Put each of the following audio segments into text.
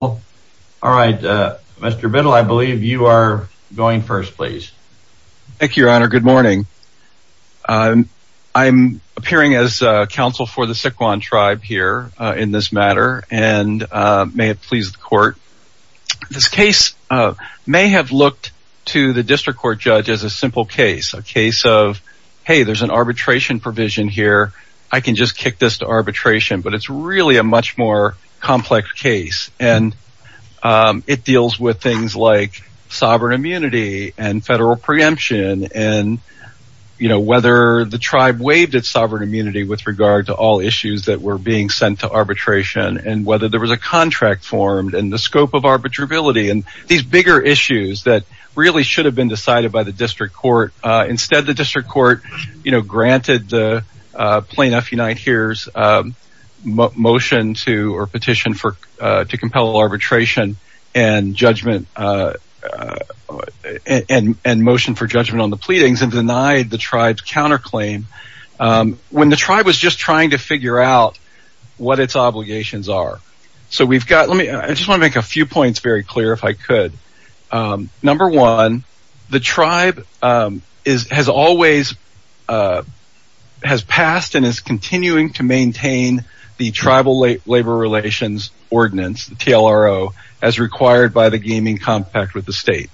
All right, Mr. Biddle, I believe you are going first, please. Thank you, Your Honor. Good morning. I'm appearing as counsel for the Sycuan tribe here in this matter and may it please the court. This case may have looked to the district court judge as a simple case, a case of, hey, there's an arbitration provision here, I can just kick this to arbitration, but it's really a much more complex case and it deals with things like sovereign immunity and federal preemption and, you know, whether the tribe waived its sovereign immunity with regard to all issues that were being sent to arbitration and whether there was a contract formed and the scope of arbitrability and these bigger issues that really should have been decided by the district court. Instead, the district compelled arbitration and judgment and motion for judgment on the pleadings and denied the tribe's counterclaim when the tribe was just trying to figure out what its obligations are. So we've got, let me, I just want to make a few points very clear if I could. Number one, the tribe has always, has passed and is TLRO as required by the gaming compact with the state.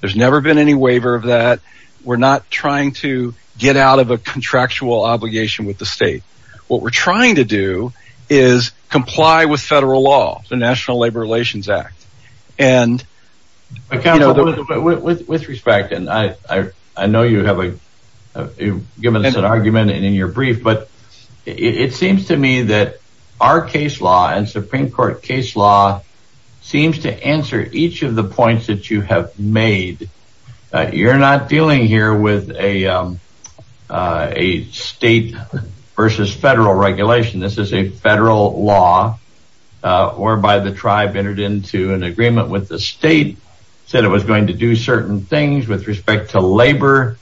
There's never been any waiver of that. We're not trying to get out of a contractual obligation with the state. What we're trying to do is comply with federal law, the National Labor Relations Act. And with respect, and I know you have a, you've given us an argument and in your brief, but it seems to me that our case law and Supreme Court case law seems to answer each of the points that you have made. You're not dealing here with a state versus federal regulation. This is a federal law whereby the tribe entered into an agreement with the state, said it was going to do certain things with respect to labor.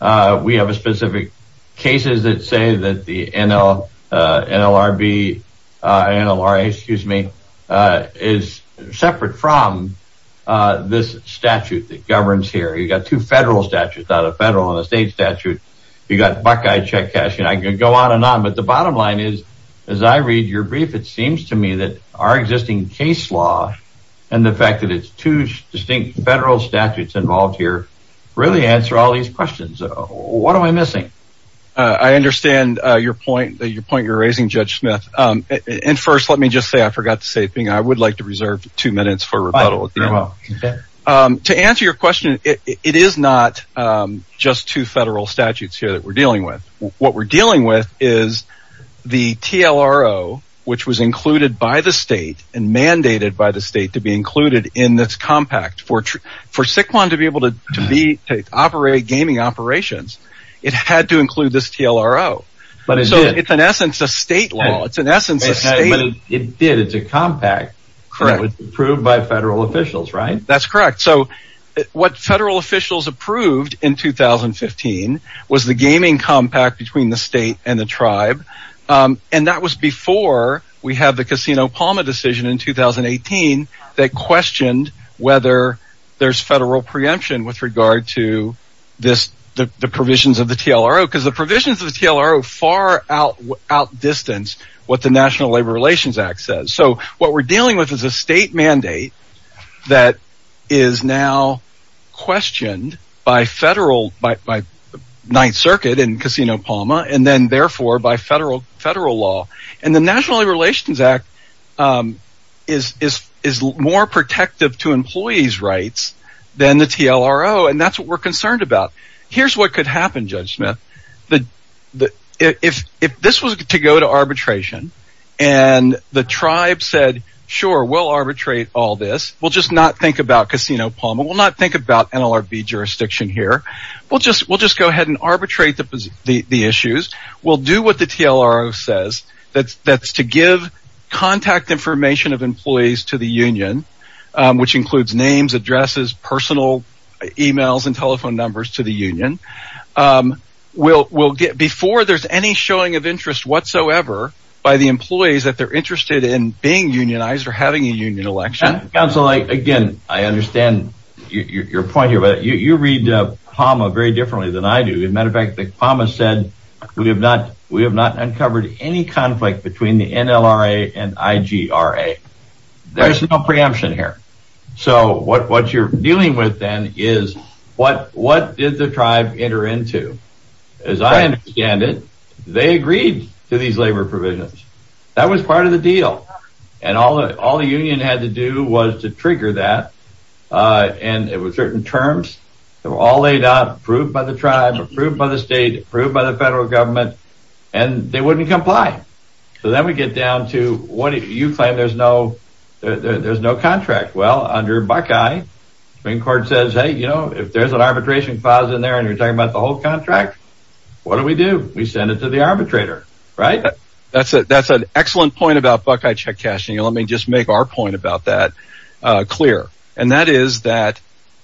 We have a specific cases that say that the NLRB, NLRA, excuse me, is separate from this statute that governs here. You've got two federal statutes, not a federal and a state statute. You've got Buckeye check cashing. I could go on and on, but the bottom line is, as I read your brief, it seems to me that our existing case law and the fact that it's two distinct federal statutes involved here really answer all these questions. What am I Smith? And first, let me just say, I forgot to say a thing. I would like to reserve two minutes for rebuttal. To answer your question, it is not just two federal statutes here that we're dealing with. What we're dealing with is the TLRO, which was included by the state and mandated by the state to be included in this compact. For Siquon to be able to be, to operate gaming operations, it had to include this TLRO. But it's an essence of state law. It's an essence of state. It did. It's a compact. Correct. Approved by federal officials, right? That's correct. So what federal officials approved in 2015 was the gaming compact between the state and the tribe, and that was before we had the Casino Palma decision in 2018 that questioned whether there's federal preemption with regard to this, the provisions of the TLRO, because the provisions of the TLRO far out distance what the National Labor Relations Act says. So what we're dealing with is a state mandate that is now questioned by federal, by Ninth Circuit and Casino Palma, and then therefore by federal law. And the National Labor Relations Act is more protective to employees' rights than the TLRO, and that's what we're concerned about. Here's what could happen, Judge Smith. If this was to go to arbitration and the tribe said, sure, we'll arbitrate all this. We'll just not think about Casino Palma. We'll not think about NLRB jurisdiction here. We'll just go ahead and arbitrate the issues. We'll do what the TLRO says. That's to give contact information of telephone numbers to the union. Before there's any showing of interest whatsoever by the employees that they're interested in being unionized or having a union election. Counsel, again, I understand your point here, but you read Palma very differently than I do. As a matter of fact, Palma said we have not uncovered any conflict between the NLRA and IGRA. There's no preemption here. So what you're dealing with then is what did the tribe enter into? As I understand it, they agreed to these labor provisions. That was part of the deal. And all the union had to do was to trigger that. And it was certain terms that were all laid out, approved by the tribe, approved by the state, approved by the federal government, and they wouldn't comply. So then we get down to you claim there's no contract. Well, under Buckeye, the Supreme Court says, hey, you know, if there's an arbitration clause in there and you're talking about the whole contract, what do we do? We send it to the arbitrator, right? That's an excellent point about Buckeye check cashing. Let me just make our point about that clear. And that is that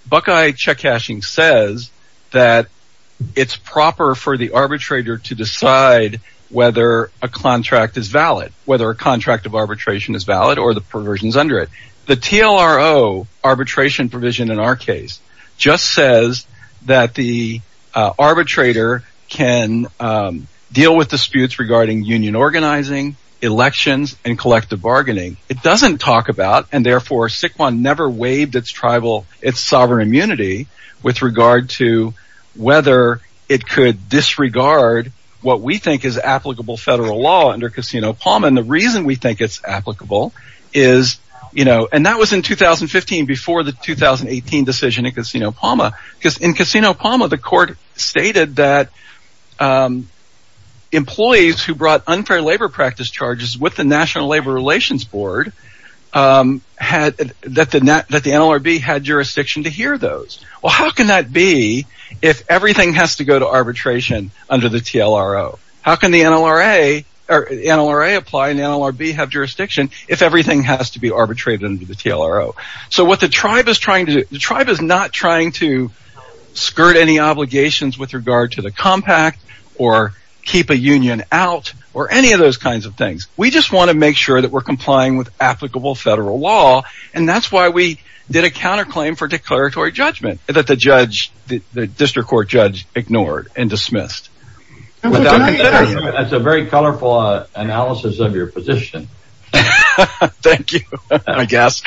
Buckeye check cashing says that it's proper for the arbitrator to decide whether a contract is valid, whether a contract of arbitration is valid or the provisions under it. The TLRO arbitration provision in our case just says that the arbitrator can deal with disputes regarding union organizing, elections and collective bargaining. It doesn't talk about and therefore Siquon never waived its tribal, its sovereign immunity with regard to whether it could disregard what we think is applicable federal law under Casino Palma. And the reason we think it's applicable is, you know, and that was in 2015, before the 2018 decision in Casino Palma, because in Casino Palma, the court stated that employees who brought unfair labor practice charges with the National Labor Relations Board had that the NLRB had jurisdiction to hear those. Well, how can that be if everything has to go to arbitration under the TLRO? How can the NLRA or NLRA apply and NLRB have jurisdiction if everything has to be arbitrated under the TLRO? So what the tribe is trying to do, the tribe is not trying to skirt any obligations with regard to the compact or keep a union out or any of those kinds of things. We just want to make sure that we're complying with applicable federal law. And that's why we did a counterclaim for declaratory judgment that the judge, the district court judge ignored and dismissed. That's a very colorful analysis of your position. Thank you, I guess.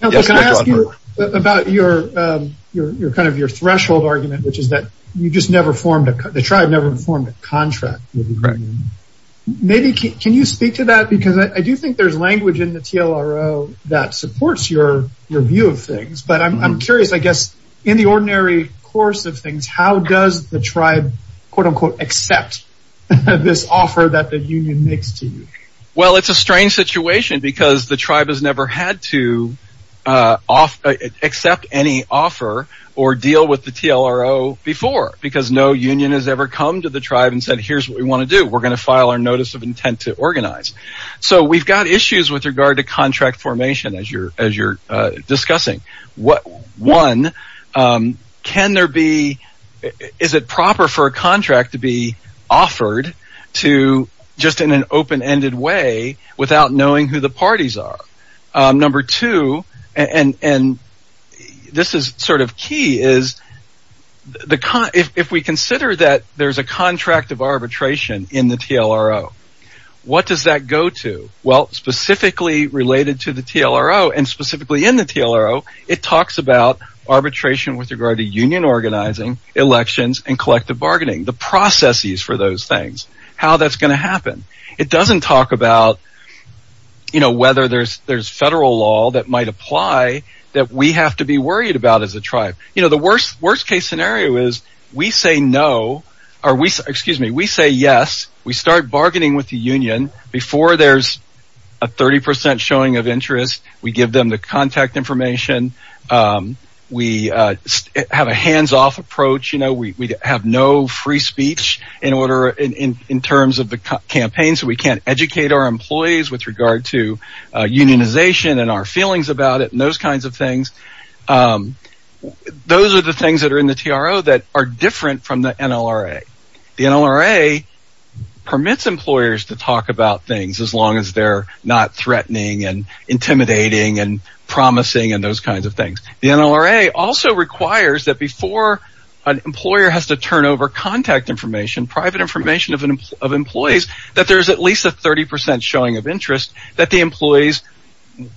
About your, your kind of your threshold argument, which is that you just never formed the tribe never formed a contract. Maybe. Can you speak to that? Because I do think there's language in the TLRO that supports your your view of things. But I'm curious, I guess, in the ordinary course of things, how does the tribe, quote unquote, accept this offer that the union makes to you? Well, it's a strange situation, because the tribe has never had to accept any offer or deal with the TLRO before because no union has ever come to the tribe and said, here's what we want to do. We're going to file our notice of intent to organize. So we've got issues with regard to contract formation as you're as you're discussing what one can there be? Is it proper for a contract to be offered to just in an open ended way without knowing who the parties are? Number two, and this is sort of key is the if we consider that there's a contract of arbitration in the TLRO, what does that go to? Well, specifically related to the TLRO and specifically in the TLRO, it talks about arbitration with regard to union organizing elections and collective bargaining the processes for those things, how that's going to happen. It doesn't talk about, you know, whether there's federal law that might apply that we have to be worried about as a tribe. You know, the worst worst case scenario is we say no or we excuse me, we say yes. We start bargaining with the union before there's a 30 percent showing of interest. We give them the contact information. We have a hands off approach. You know, we have no free speech in order in terms of the campaign. So we can't educate our employees with regard to unionization and our feelings about it and those kinds of things. Those are the things that are in the TRLO that are different from the NLRA. The NLRA permits employers to talk about things as long as they're not threatening and intimidating and promising and those kinds of things. The NLRA also requires that before an employer has to turn over contact information, private information of employees, that there's at least a 30 percent showing of interest that the employees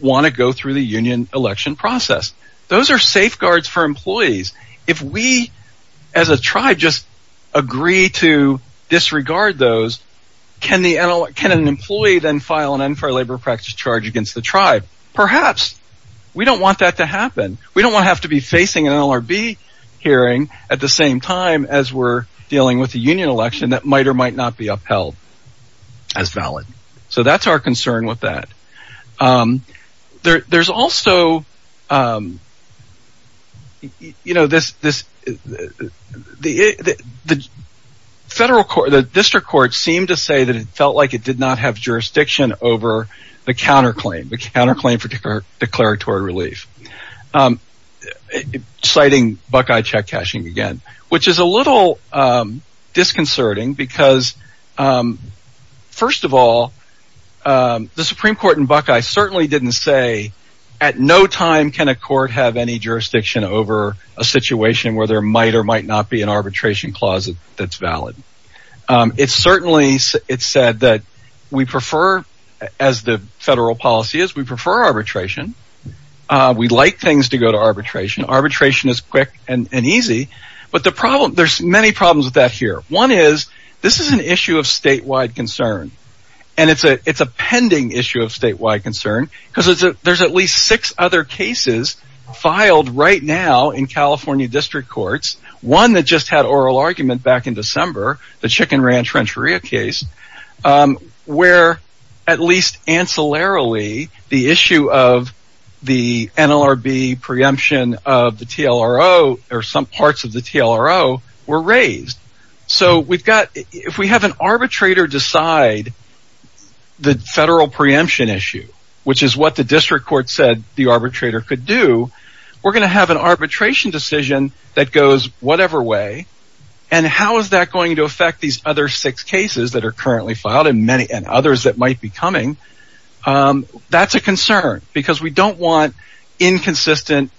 want to go through the union election process. Those are safeguards for employees. If we as a tribe just agree to disregard those, can an employee then file an unfair labor practice charge against the tribe? Perhaps. We don't want that to happen. We don't want to have to be facing an LRB hearing at the same time as we're dealing with a union election that might or might not be upheld as valid. So that's our concern with that. There's also, you know, the federal court, the district court seemed to say that it felt like it did not have jurisdiction over the counterclaim, the counterclaim for citing Buckeye check cashing again, which is a little disconcerting because, first of all, the Supreme Court in Buckeye certainly didn't say at no time can a court have any jurisdiction over a situation where there might or might not be an arbitration clause that's valid. It certainly said that we prefer, as the federal policy is, we like things to go to arbitration. Arbitration is quick and easy, but there's many problems with that here. One is this is an issue of statewide concern, and it's a pending issue of statewide concern because there's at least six other cases filed right now in California district courts, one that just had oral argument back in December, the Chicken Ranch Rancheria case, where at least ancillarily the issue of the NLRB preemption of the TLRO or some parts of the TLRO were raised. So we've got, if we have an arbitrator decide the federal preemption issue, which is what the district court said the arbitrator could do, we're going to have an arbitration decision that goes whatever way, and how is that going to affect these other six cases that are currently filed and many others that might be coming? That's a concern because we don't want inconsistent,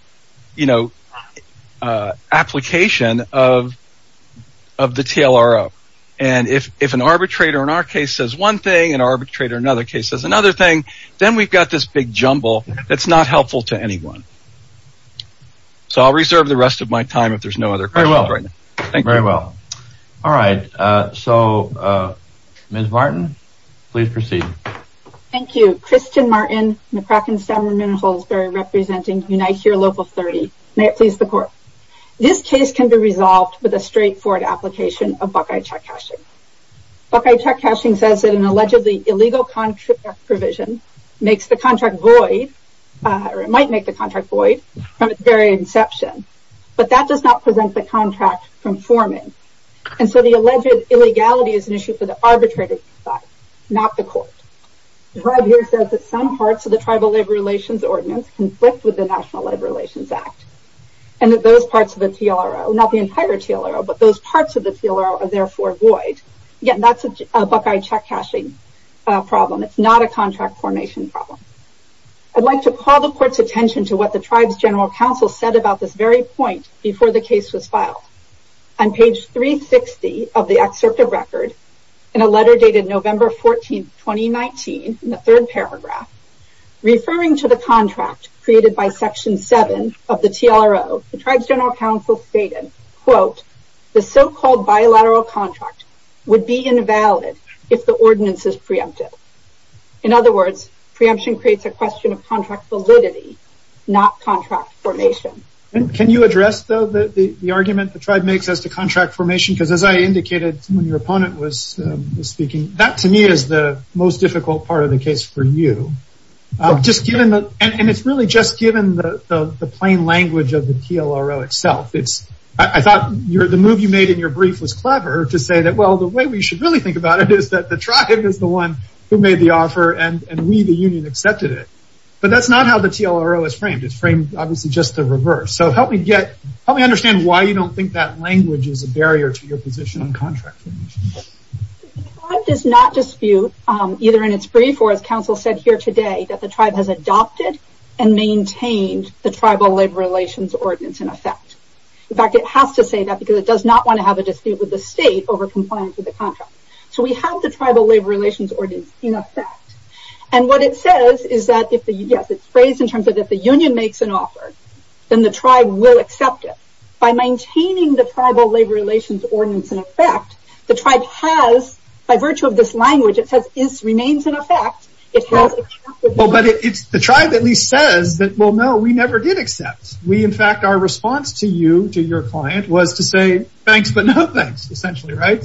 you know, application of the TLRO. And if an arbitrator in our case says one thing, an arbitrator in another case says another thing, then we've got this big jumble that's not helpful to anyone. So I'll reserve the rest of my time if there's no other questions right now. Thank you very well. All right, so Ms. Martin, please proceed. Thank you. Kristen Martin, McCracken-Stammer, Minnesota, representing Unite Here Local 30. May it please the court. This case can be resolved with a straightforward application of Buckeye check cashing. Buckeye check cashing says that an allegedly illegal contract provision makes the contract void, or it might make the contract void, from its very inception. But that does not present the contract from forming. And so the alleged illegality is an issue for the arbitrator to decide, not the court. The tribe here says that some parts of the Tribal Labor Relations Ordinance conflict with the National Labor Relations Act. And that those parts of the TLRO, not the entire TLRO, but those parts of the TLRO are therefore void. Again, that's a Buckeye check cashing problem. It's not a contract formation problem. I'd like to call the court's attention to what the On page 360 of the excerpt of record, in a letter dated November 14, 2019, in the third paragraph, referring to the contract created by Section 7 of the TLRO, the Tribes General Council stated, quote, the so-called bilateral contract would be invalid if the ordinance is preempted. In other words, preemption creates a question of contract validity, not contract formation. And can you address the argument the tribe makes as to contract formation? Because as I indicated, when your opponent was speaking, that to me is the most difficult part of the case for you. And it's really just given the plain language of the TLRO itself. I thought the move you made in your brief was clever to say that, well, the way we should really think about it is that the tribe is the one who made the offer and we, the union, accepted it. But that's So help me understand why you don't think that language is a barrier to your position on contract formation. The tribe does not dispute, either in its brief or as counsel said here today, that the tribe has adopted and maintained the Tribal Labor Relations Ordinance in effect. In fact, it has to say that because it does not want to have a dispute with the state over compliance with the contract. So we have the Tribal Labor Relations Ordinance in effect. And what it says is that, yes, it's phrased in terms of if the union makes an offer, then the tribe will accept it. By maintaining the Tribal Labor Relations Ordinance in effect, the tribe has, by virtue of this language, it says, is, remains in effect, it has Well, but it's the tribe at least says that, well, no, we never did accept. We in fact, our response to you, to your client, was to say, thanks, but no thanks, essentially, right?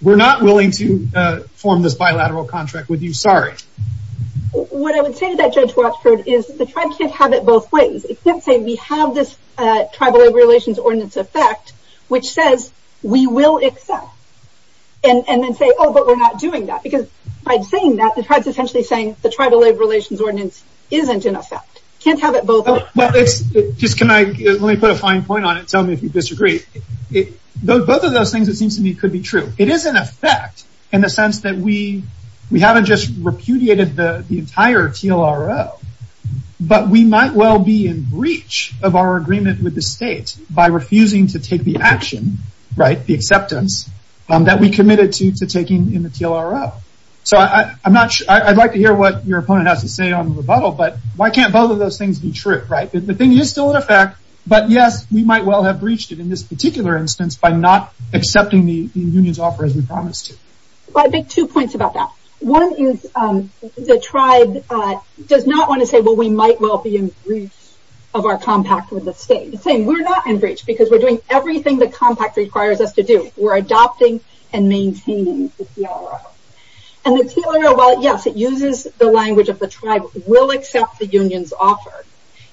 We're not willing to form this bilateral contract with you. Sorry. What I would say to that Judge Watford is that the tribe can't have it both ways. It can't say we have this Tribal Labor Relations Ordinance effect, which says, we will accept. And then say, oh, but we're not doing that. Because by saying that, the tribe's essentially saying the Tribal Labor Relations Ordinance isn't in effect. Can't have it both ways. Well, it's just, can I, let me put a fine point on it. Tell me if you disagree. Both of those things, it seems to me, could be true. It is in the entire TLRO. But we might well be in breach of our agreement with the state by refusing to take the action, right, the acceptance that we committed to taking in the TLRO. So I'm not sure, I'd like to hear what your opponent has to say on the rebuttal. But why can't both of those things be true? Right? The thing is still in effect. But yes, we might well have breached it in this particular instance by not accepting the union's offer as we promised. I think two points about that. One is the tribe does not want to say, well, we might well be in breach of our compact with the state. We're not in breach because we're doing everything the compact requires us to do. We're adopting and maintaining the TLRO. And the TLRO, while yes, it uses the language of the tribe, will accept the union's offer.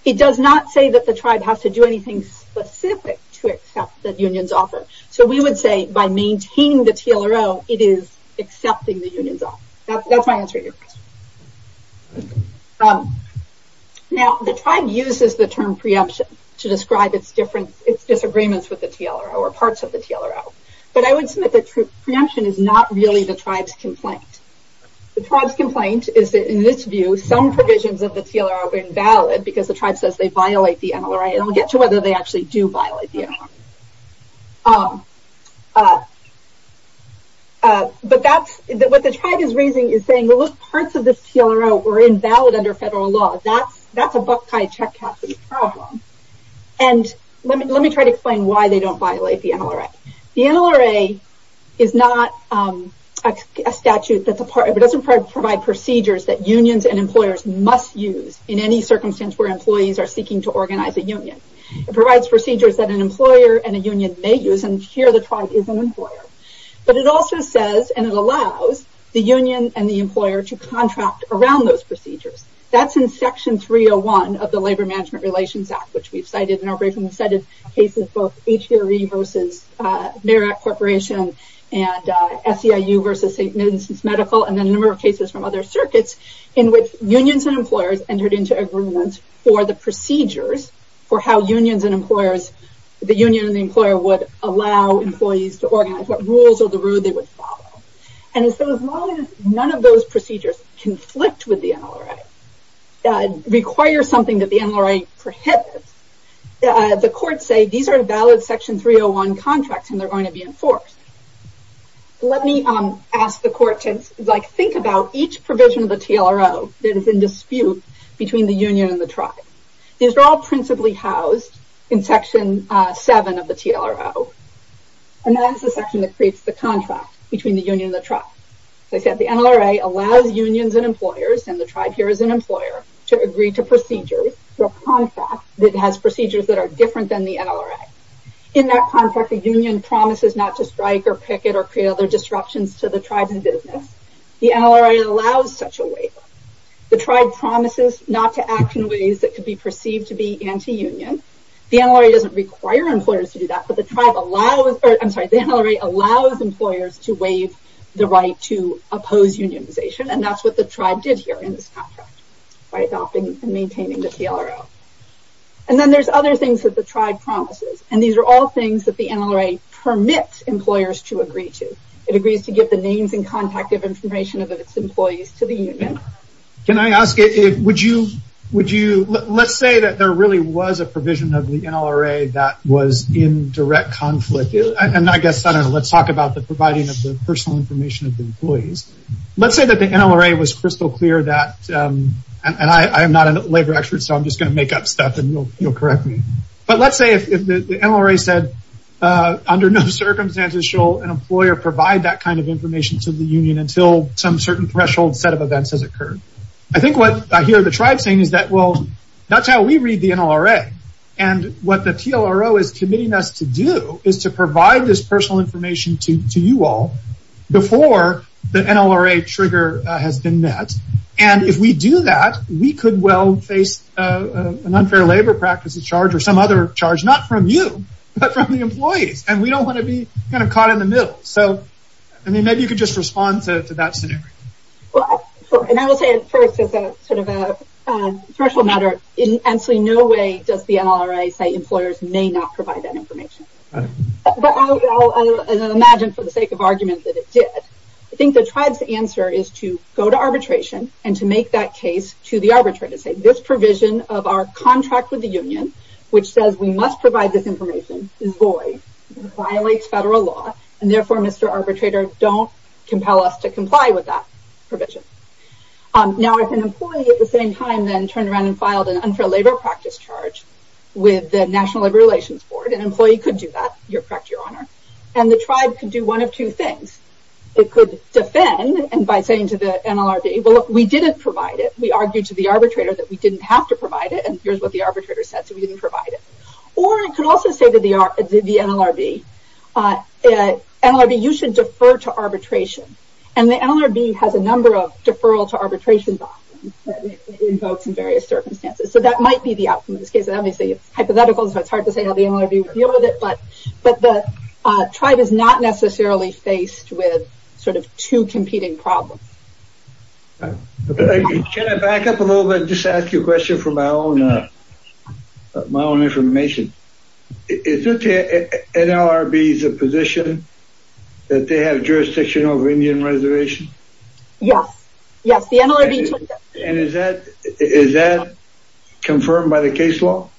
It does not say that the tribe has to do anything specific to accept the union's offer. So we would say by maintaining the TLRO, it is accepting the union's offer. That's my answer to your question. Now the tribe uses the term preemption to describe its disagreements with the TLRO or parts of the TLRO. But I would submit that preemption is not really the tribe's complaint. The tribe's complaint is that in this view, some provisions of the TLRO are invalid because the tribe says they violate the NLR. And we'll get to whether they actually do violate the NLR. But that's, what the tribe is raising is saying, well, those parts of the TLRO were invalid under federal law. That's a Buckeye check cap problem. And let me try to explain why they don't violate the NLRA. The NLRA is not a statute that's a part, it doesn't provide procedures that unions and employers must use in any circumstance where it provides procedures that an employer and a union may use. And here the tribe is an employer. But it also says, and it allows, the union and the employer to contract around those procedures. That's in Section 301 of the Labor Management Relations Act, which we've cited in our briefing. We've cited cases, both HVRE versus Merritt Corporation and SEIU versus St. Vincent's Medical, and then a number of cases from other circuits in which unions and employers entered into agreements for the procedures for how unions and employers, the union and the employer would allow employees to organize what rules or the rule they would follow. And so as long as none of those procedures conflict with the NLRA, require something that the NLRA prohibits, the courts say these are valid Section 301 contracts and they're going to be enforced. Let me ask the court to think about each provision of the TLRO that is in dispute between the union and the tribe. These are all principally housed in Section 7 of the TLRO. And that is the section that creates the contract between the union and the tribe. As I said, the NLRA allows unions and employers, and the tribe here is an employer, to agree to procedures for a contract that has procedures that are different than the NLRA. In that contract, the union promises not to strike or picket or create other disruptions to the tribe's business. The NLRA allows such a union. The NLRA doesn't require employers to do that, but the NLRA allows employers to waive the right to oppose unionization. And that's what the tribe did here in this contract, by adopting and maintaining the TLRO. And then there's other things that the tribe promises. And these are all things that the NLRA permits employers to agree to. It agrees to give the names and contact of information of its employees to the union. Can I ask, let's say that there really was a provision of the NLRA that was in direct conflict. And I guess, let's talk about the providing of the personal information of the employees. Let's say that the NLRA was crystal clear that, and I am not a labor expert, so I'm just going to make up stuff and you'll correct me. But let's say if the NLRA said, under no circumstances shall an employer provide that kind of information to the union until some certain threshold set of events has occurred. I think what I hear the tribe saying is that, well, that's how we read the NLRA. And what the TLRO is committing us to do is to provide this personal information to you all before the NLRA trigger has been met. And if we do that, we could well face an unfair labor practices charge or some other charge, not from you, but from the employees. And we don't want to be kind of caught in the middle. So, I mean, maybe you could just respond to that scenario. Well, and I will say it first as a sort of a threshold matter. In absolutely no way does the NLRA say employers may not provide that information. But I'll imagine for the sake of argument that it did. I think the tribe's answer is to go to arbitration and to make that case to the arbitrator. Say this provision of our contract with the union, which says we must provide this law. And therefore, Mr. Arbitrator, don't compel us to comply with that provision. Now, if an employee at the same time then turned around and filed an unfair labor practice charge with the National Labor Relations Board, an employee could do that. You're correct, Your Honor. And the tribe could do one of two things. It could defend and by saying to the NLRB, well, look, we didn't provide it. We argued to the arbitrator that we didn't have to provide it. And here's what the arbitrator said. So we didn't provide it. Or it could also say to the NLRB, NLRB, you should defer to arbitration. And the NLRB has a number of deferral to arbitration documents that invokes in various circumstances. So that might be the outcome of this case. Obviously, it's hypothetical. So it's hard to say how the NLRB would deal with it. But the tribe is not necessarily faced with sort of two competing problems. Can I back up a little bit and just ask you a question for my own information? Is it the NLRB's position that they have jurisdiction over Indian reservation? Yes. Yes, the NLRB took that. And is that confirmed by the case law?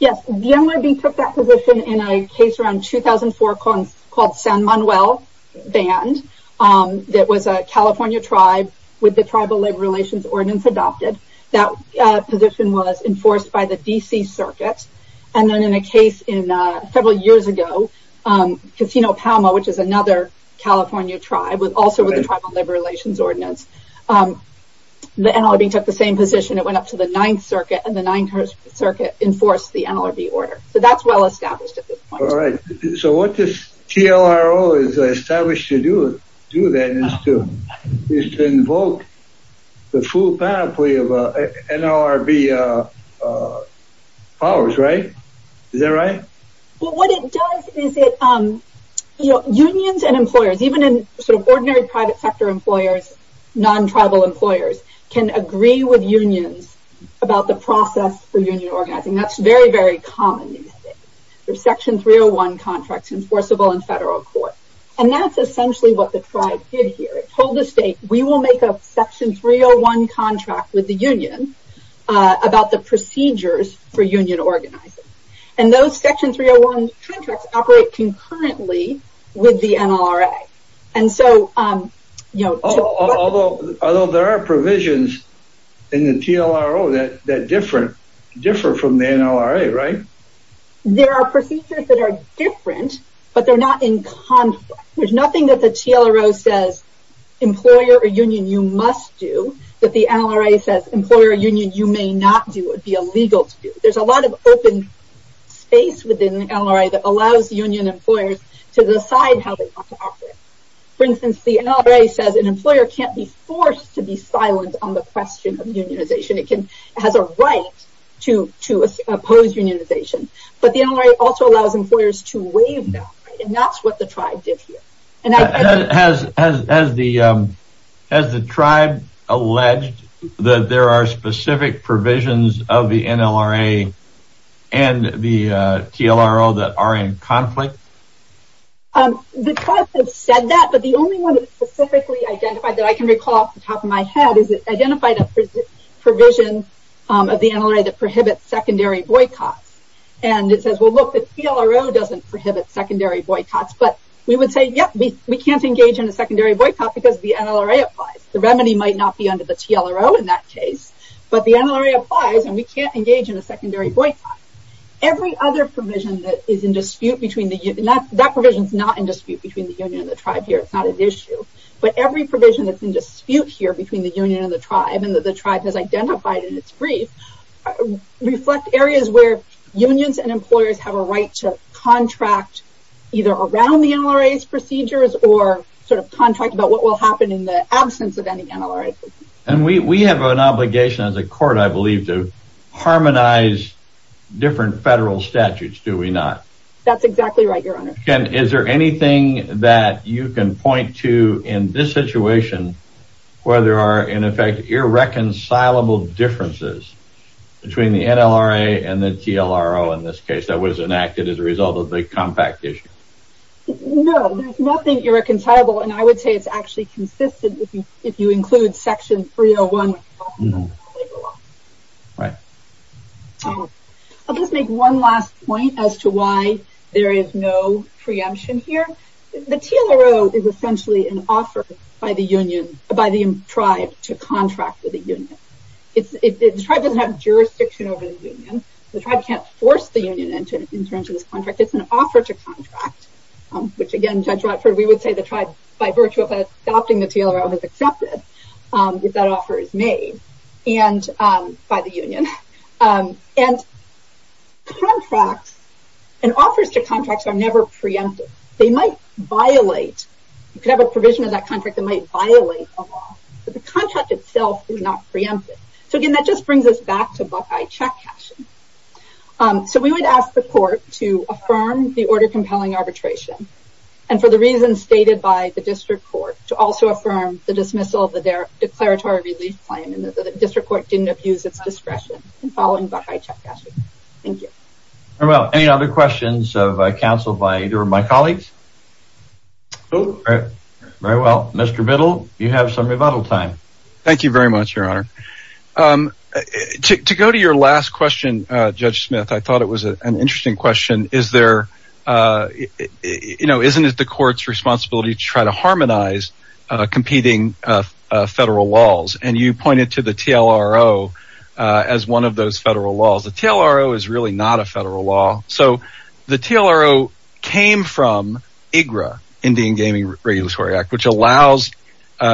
Yes, the NLRB took that position in a case around 2004 called San Manuel Band. That was a California tribe with the Tribal Labor Relations Ordinance adopted. That position was enforced by the DC Circuit. And then in a case in several years ago, Casino Palma, which is another California tribe was also with the Tribal Labor Relations Ordinance. The NLRB took the same position, it went up to the Ninth Circuit and the Ninth Circuit enforced the NLRB order. So that's well established at this point. All right. So what this TLRO has established to do that is to invoke the full pathway of NLRB powers, right? Is that right? Well, what it does is it, you know, unions and employers, even in sort of ordinary private sector employers, non-tribal employers can agree with unions about the process for union organizing. That's very, very common. There's Section 301 contracts enforceable in federal court. And that's essentially what the tribe did here. It told the state, we will make a Section 301 contract with the union about the procedures for union organizing. And those Section 301 contracts operate concurrently with the NLRA. And so, you know, although there are provisions in the TLRO that differ from the NLRA, right? There are procedures that are different, but they're not in conflict. There's nothing that the TLRO says, employer or union, you must do, that the NLRA says employer or union, you may not do, it would be illegal to do. There's a lot of open space within the NLRA that allows union employers to decide how they want to operate. For instance, the NLRA says an employer can't be forced to be unionization. But the NLRA also allows employers to waive that. And that's what the tribe did here. Has the tribe alleged that there are specific provisions of the NLRA and the TLRO that are in conflict? The tribe has said that, but the only one that is specifically identified that I can recall off the top of my head is it identified a provision of the NLRA that and it says, well, look, the TLRO doesn't prohibit secondary boycotts. But we would say, yep, we can't engage in a secondary boycott because the NLRA applies, the remedy might not be under the TLRO in that case. But the NLRA applies and we can't engage in a secondary boycott. Every other provision that is in dispute between the union, that provision is not in dispute between the union and the tribe here, it's not an issue. But every provision that's in dispute here between the union and the tribe and that the tribe has identified in its brief, reflect areas where unions and employers have a right to contract either around the NLRA's procedures or sort of contract about what will happen in the absence of any NLRA. And we have an obligation as a court, I believe, to harmonize different federal statutes, do we not? That's exactly right, Your Honor. And is there anything that you can point to in this situation, where there are in siloable differences between the NLRA and the TLRO in this case that was enacted as a result of the compact issue? No, there's nothing irreconcilable. And I would say it's actually consistent if you include section 301. Right. I'll just make one last point as to why there is no preemption here. The TLRO is a union. The tribe doesn't have jurisdiction over the union. The tribe can't force the union into this contract. It's an offer to contract, which again, Judge Rodford, we would say the tribe, by virtue of adopting the TLRO, is accepted if that offer is made by the union. And contracts and offers to contracts are never preempted. They might violate. You could have a provision of that contract that might violate a law, but the contract itself is not preempted. So again, that just brings us back to Buckeye check cashing. So we would ask the court to affirm the order compelling arbitration. And for the reasons stated by the district court, to also affirm the dismissal of the declaratory relief claim and that the district court didn't abuse its discretion in following Buckeye check cashing. Thank you. Very well. Any other questions of counsel by either of my colleagues? Very well. Mr. Biddle, you have some rebuttal time. Thank you very much, Your Honor. To go to your last question, Judge Smith, I thought it was an interesting question. Is there, you know, isn't it the court's responsibility to try to harmonize competing federal laws? And you pointed to the TLRO as one of those federal laws. The TLRO is really not a federal law. So the TLRO came from IGRA, Indian Gaming Regulatory Act, which allows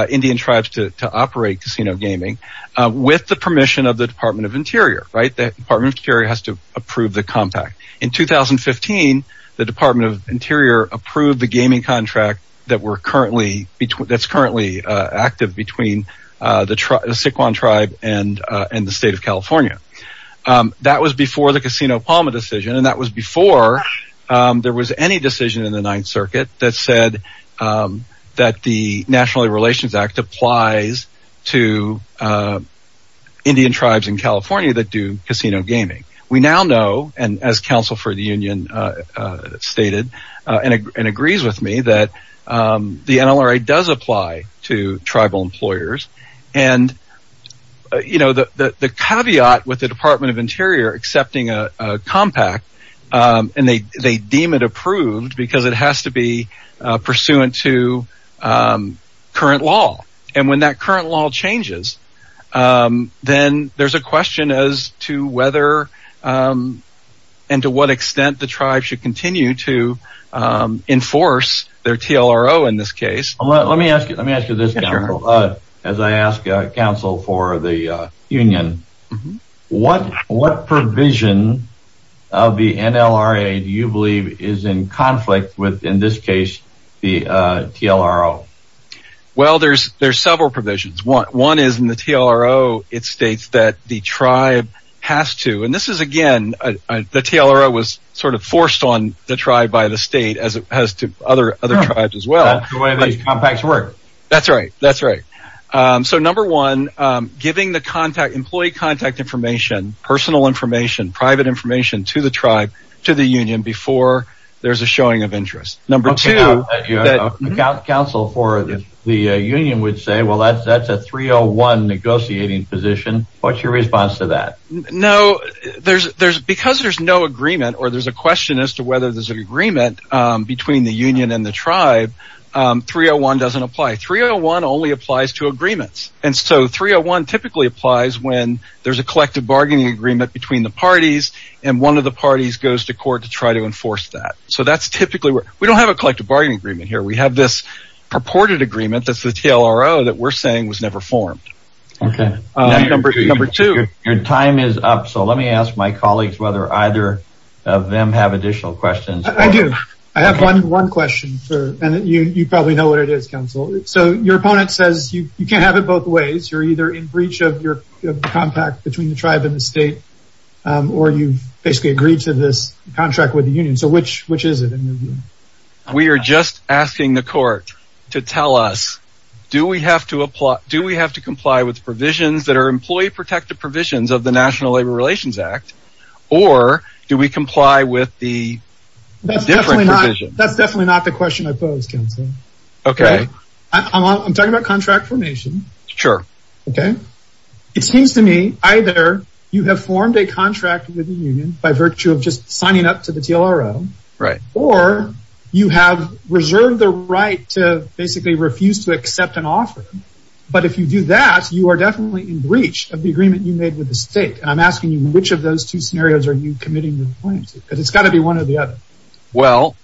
Indian tribes to operate casino gaming with the permission of the Department of Interior. Right. The Department of Interior has to approve the compact. In 2015, the Department of Interior approved the gaming contract that's currently active between the Siquan tribe and the state of California. That was before the Casino Palma decision. And that was before there was any decision in the Ninth Circuit that said that the National Relations Act applies to Indian tribes in California that do casino gaming. We now know, and as counsel for the union stated and agrees with me, that the NLRA does apply to tribal employers. And, you know, the caveat with the Department of Interior accepting a compact and they current law. And when that current law changes, then there's a question as to whether and to what extent the tribe should continue to enforce their TLRO in this case. Let me ask you this, as I ask counsel for the union, what provision of the NLRA do you believe is in conflict with, in this case, the TLRO? Well, there's there's several provisions. One is in the TLRO. It states that the tribe has to. And this is again, the TLRO was sort of forced on the tribe by the state as it has to other other tribes as well. Compacts work. That's right. That's right. So, number one, giving the contact employee contact information, personal information, private information to the tribe, to the union before there's a showing of the union would say, well, that's that's a 301 negotiating position. What's your response to that? No, there's there's because there's no agreement or there's a question as to whether there's an agreement between the union and the tribe. 301 doesn't apply. 301 only applies to agreements. And so 301 typically applies when there's a collective bargaining agreement between the parties and one of the parties goes to court to try to enforce that. So that's typically where we don't have a collective bargaining agreement here. We have this purported agreement. That's the TLRO that we're saying was never formed. OK, number two, your time is up. So let me ask my colleagues whether either of them have additional questions. I do. I have one one question for and you probably know what it is, counsel. So your opponent says you can't have it both ways. You're either in breach of your contact between the tribe and the state or you basically agreed to this contract with the union. So which which is it? We are just asking the court to tell us, do we have to apply? Do we have to comply with provisions that are employee protected provisions of the National Labor Relations Act or do we comply with the different provisions? That's definitely not the question I posed. OK, I'm talking about contract formation. Sure. OK, it seems to me either you have formed a contract with the union by virtue of just signing up to the TLRO or you have reserved the right to basically refuse to accept an offer. But if you do that, you are definitely in breach of the agreement you made with the state. And I'm asking you, which of those two scenarios are you committing? Because it's got to be one or the other. Well,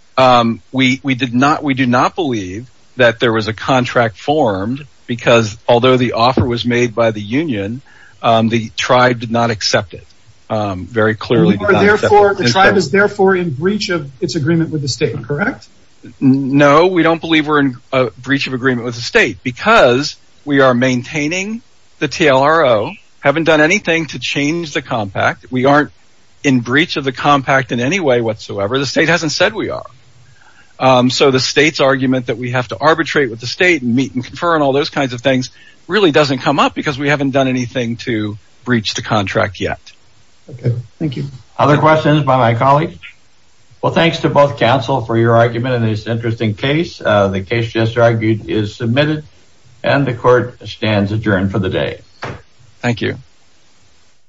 we did not we do not believe that there was a contract formed because although the offer was made by the union, the tribe did not accept it very clearly. Therefore, the tribe is therefore in breach of its agreement with the state. Correct? No, we don't believe we're in a breach of agreement with the state because we are maintaining the TLRO, haven't done anything to change the compact. We aren't in breach of the compact in any way whatsoever. The state hasn't said we are. So the state's argument that we have to arbitrate with the state and meet and confer on all those kinds of things really doesn't come up because we haven't done anything to breach the contract yet. OK, thank you. Other questions by my colleague? Well, thanks to both counsel for your argument in this interesting case. The case just argued is submitted and the court stands adjourned for the day. Thank you.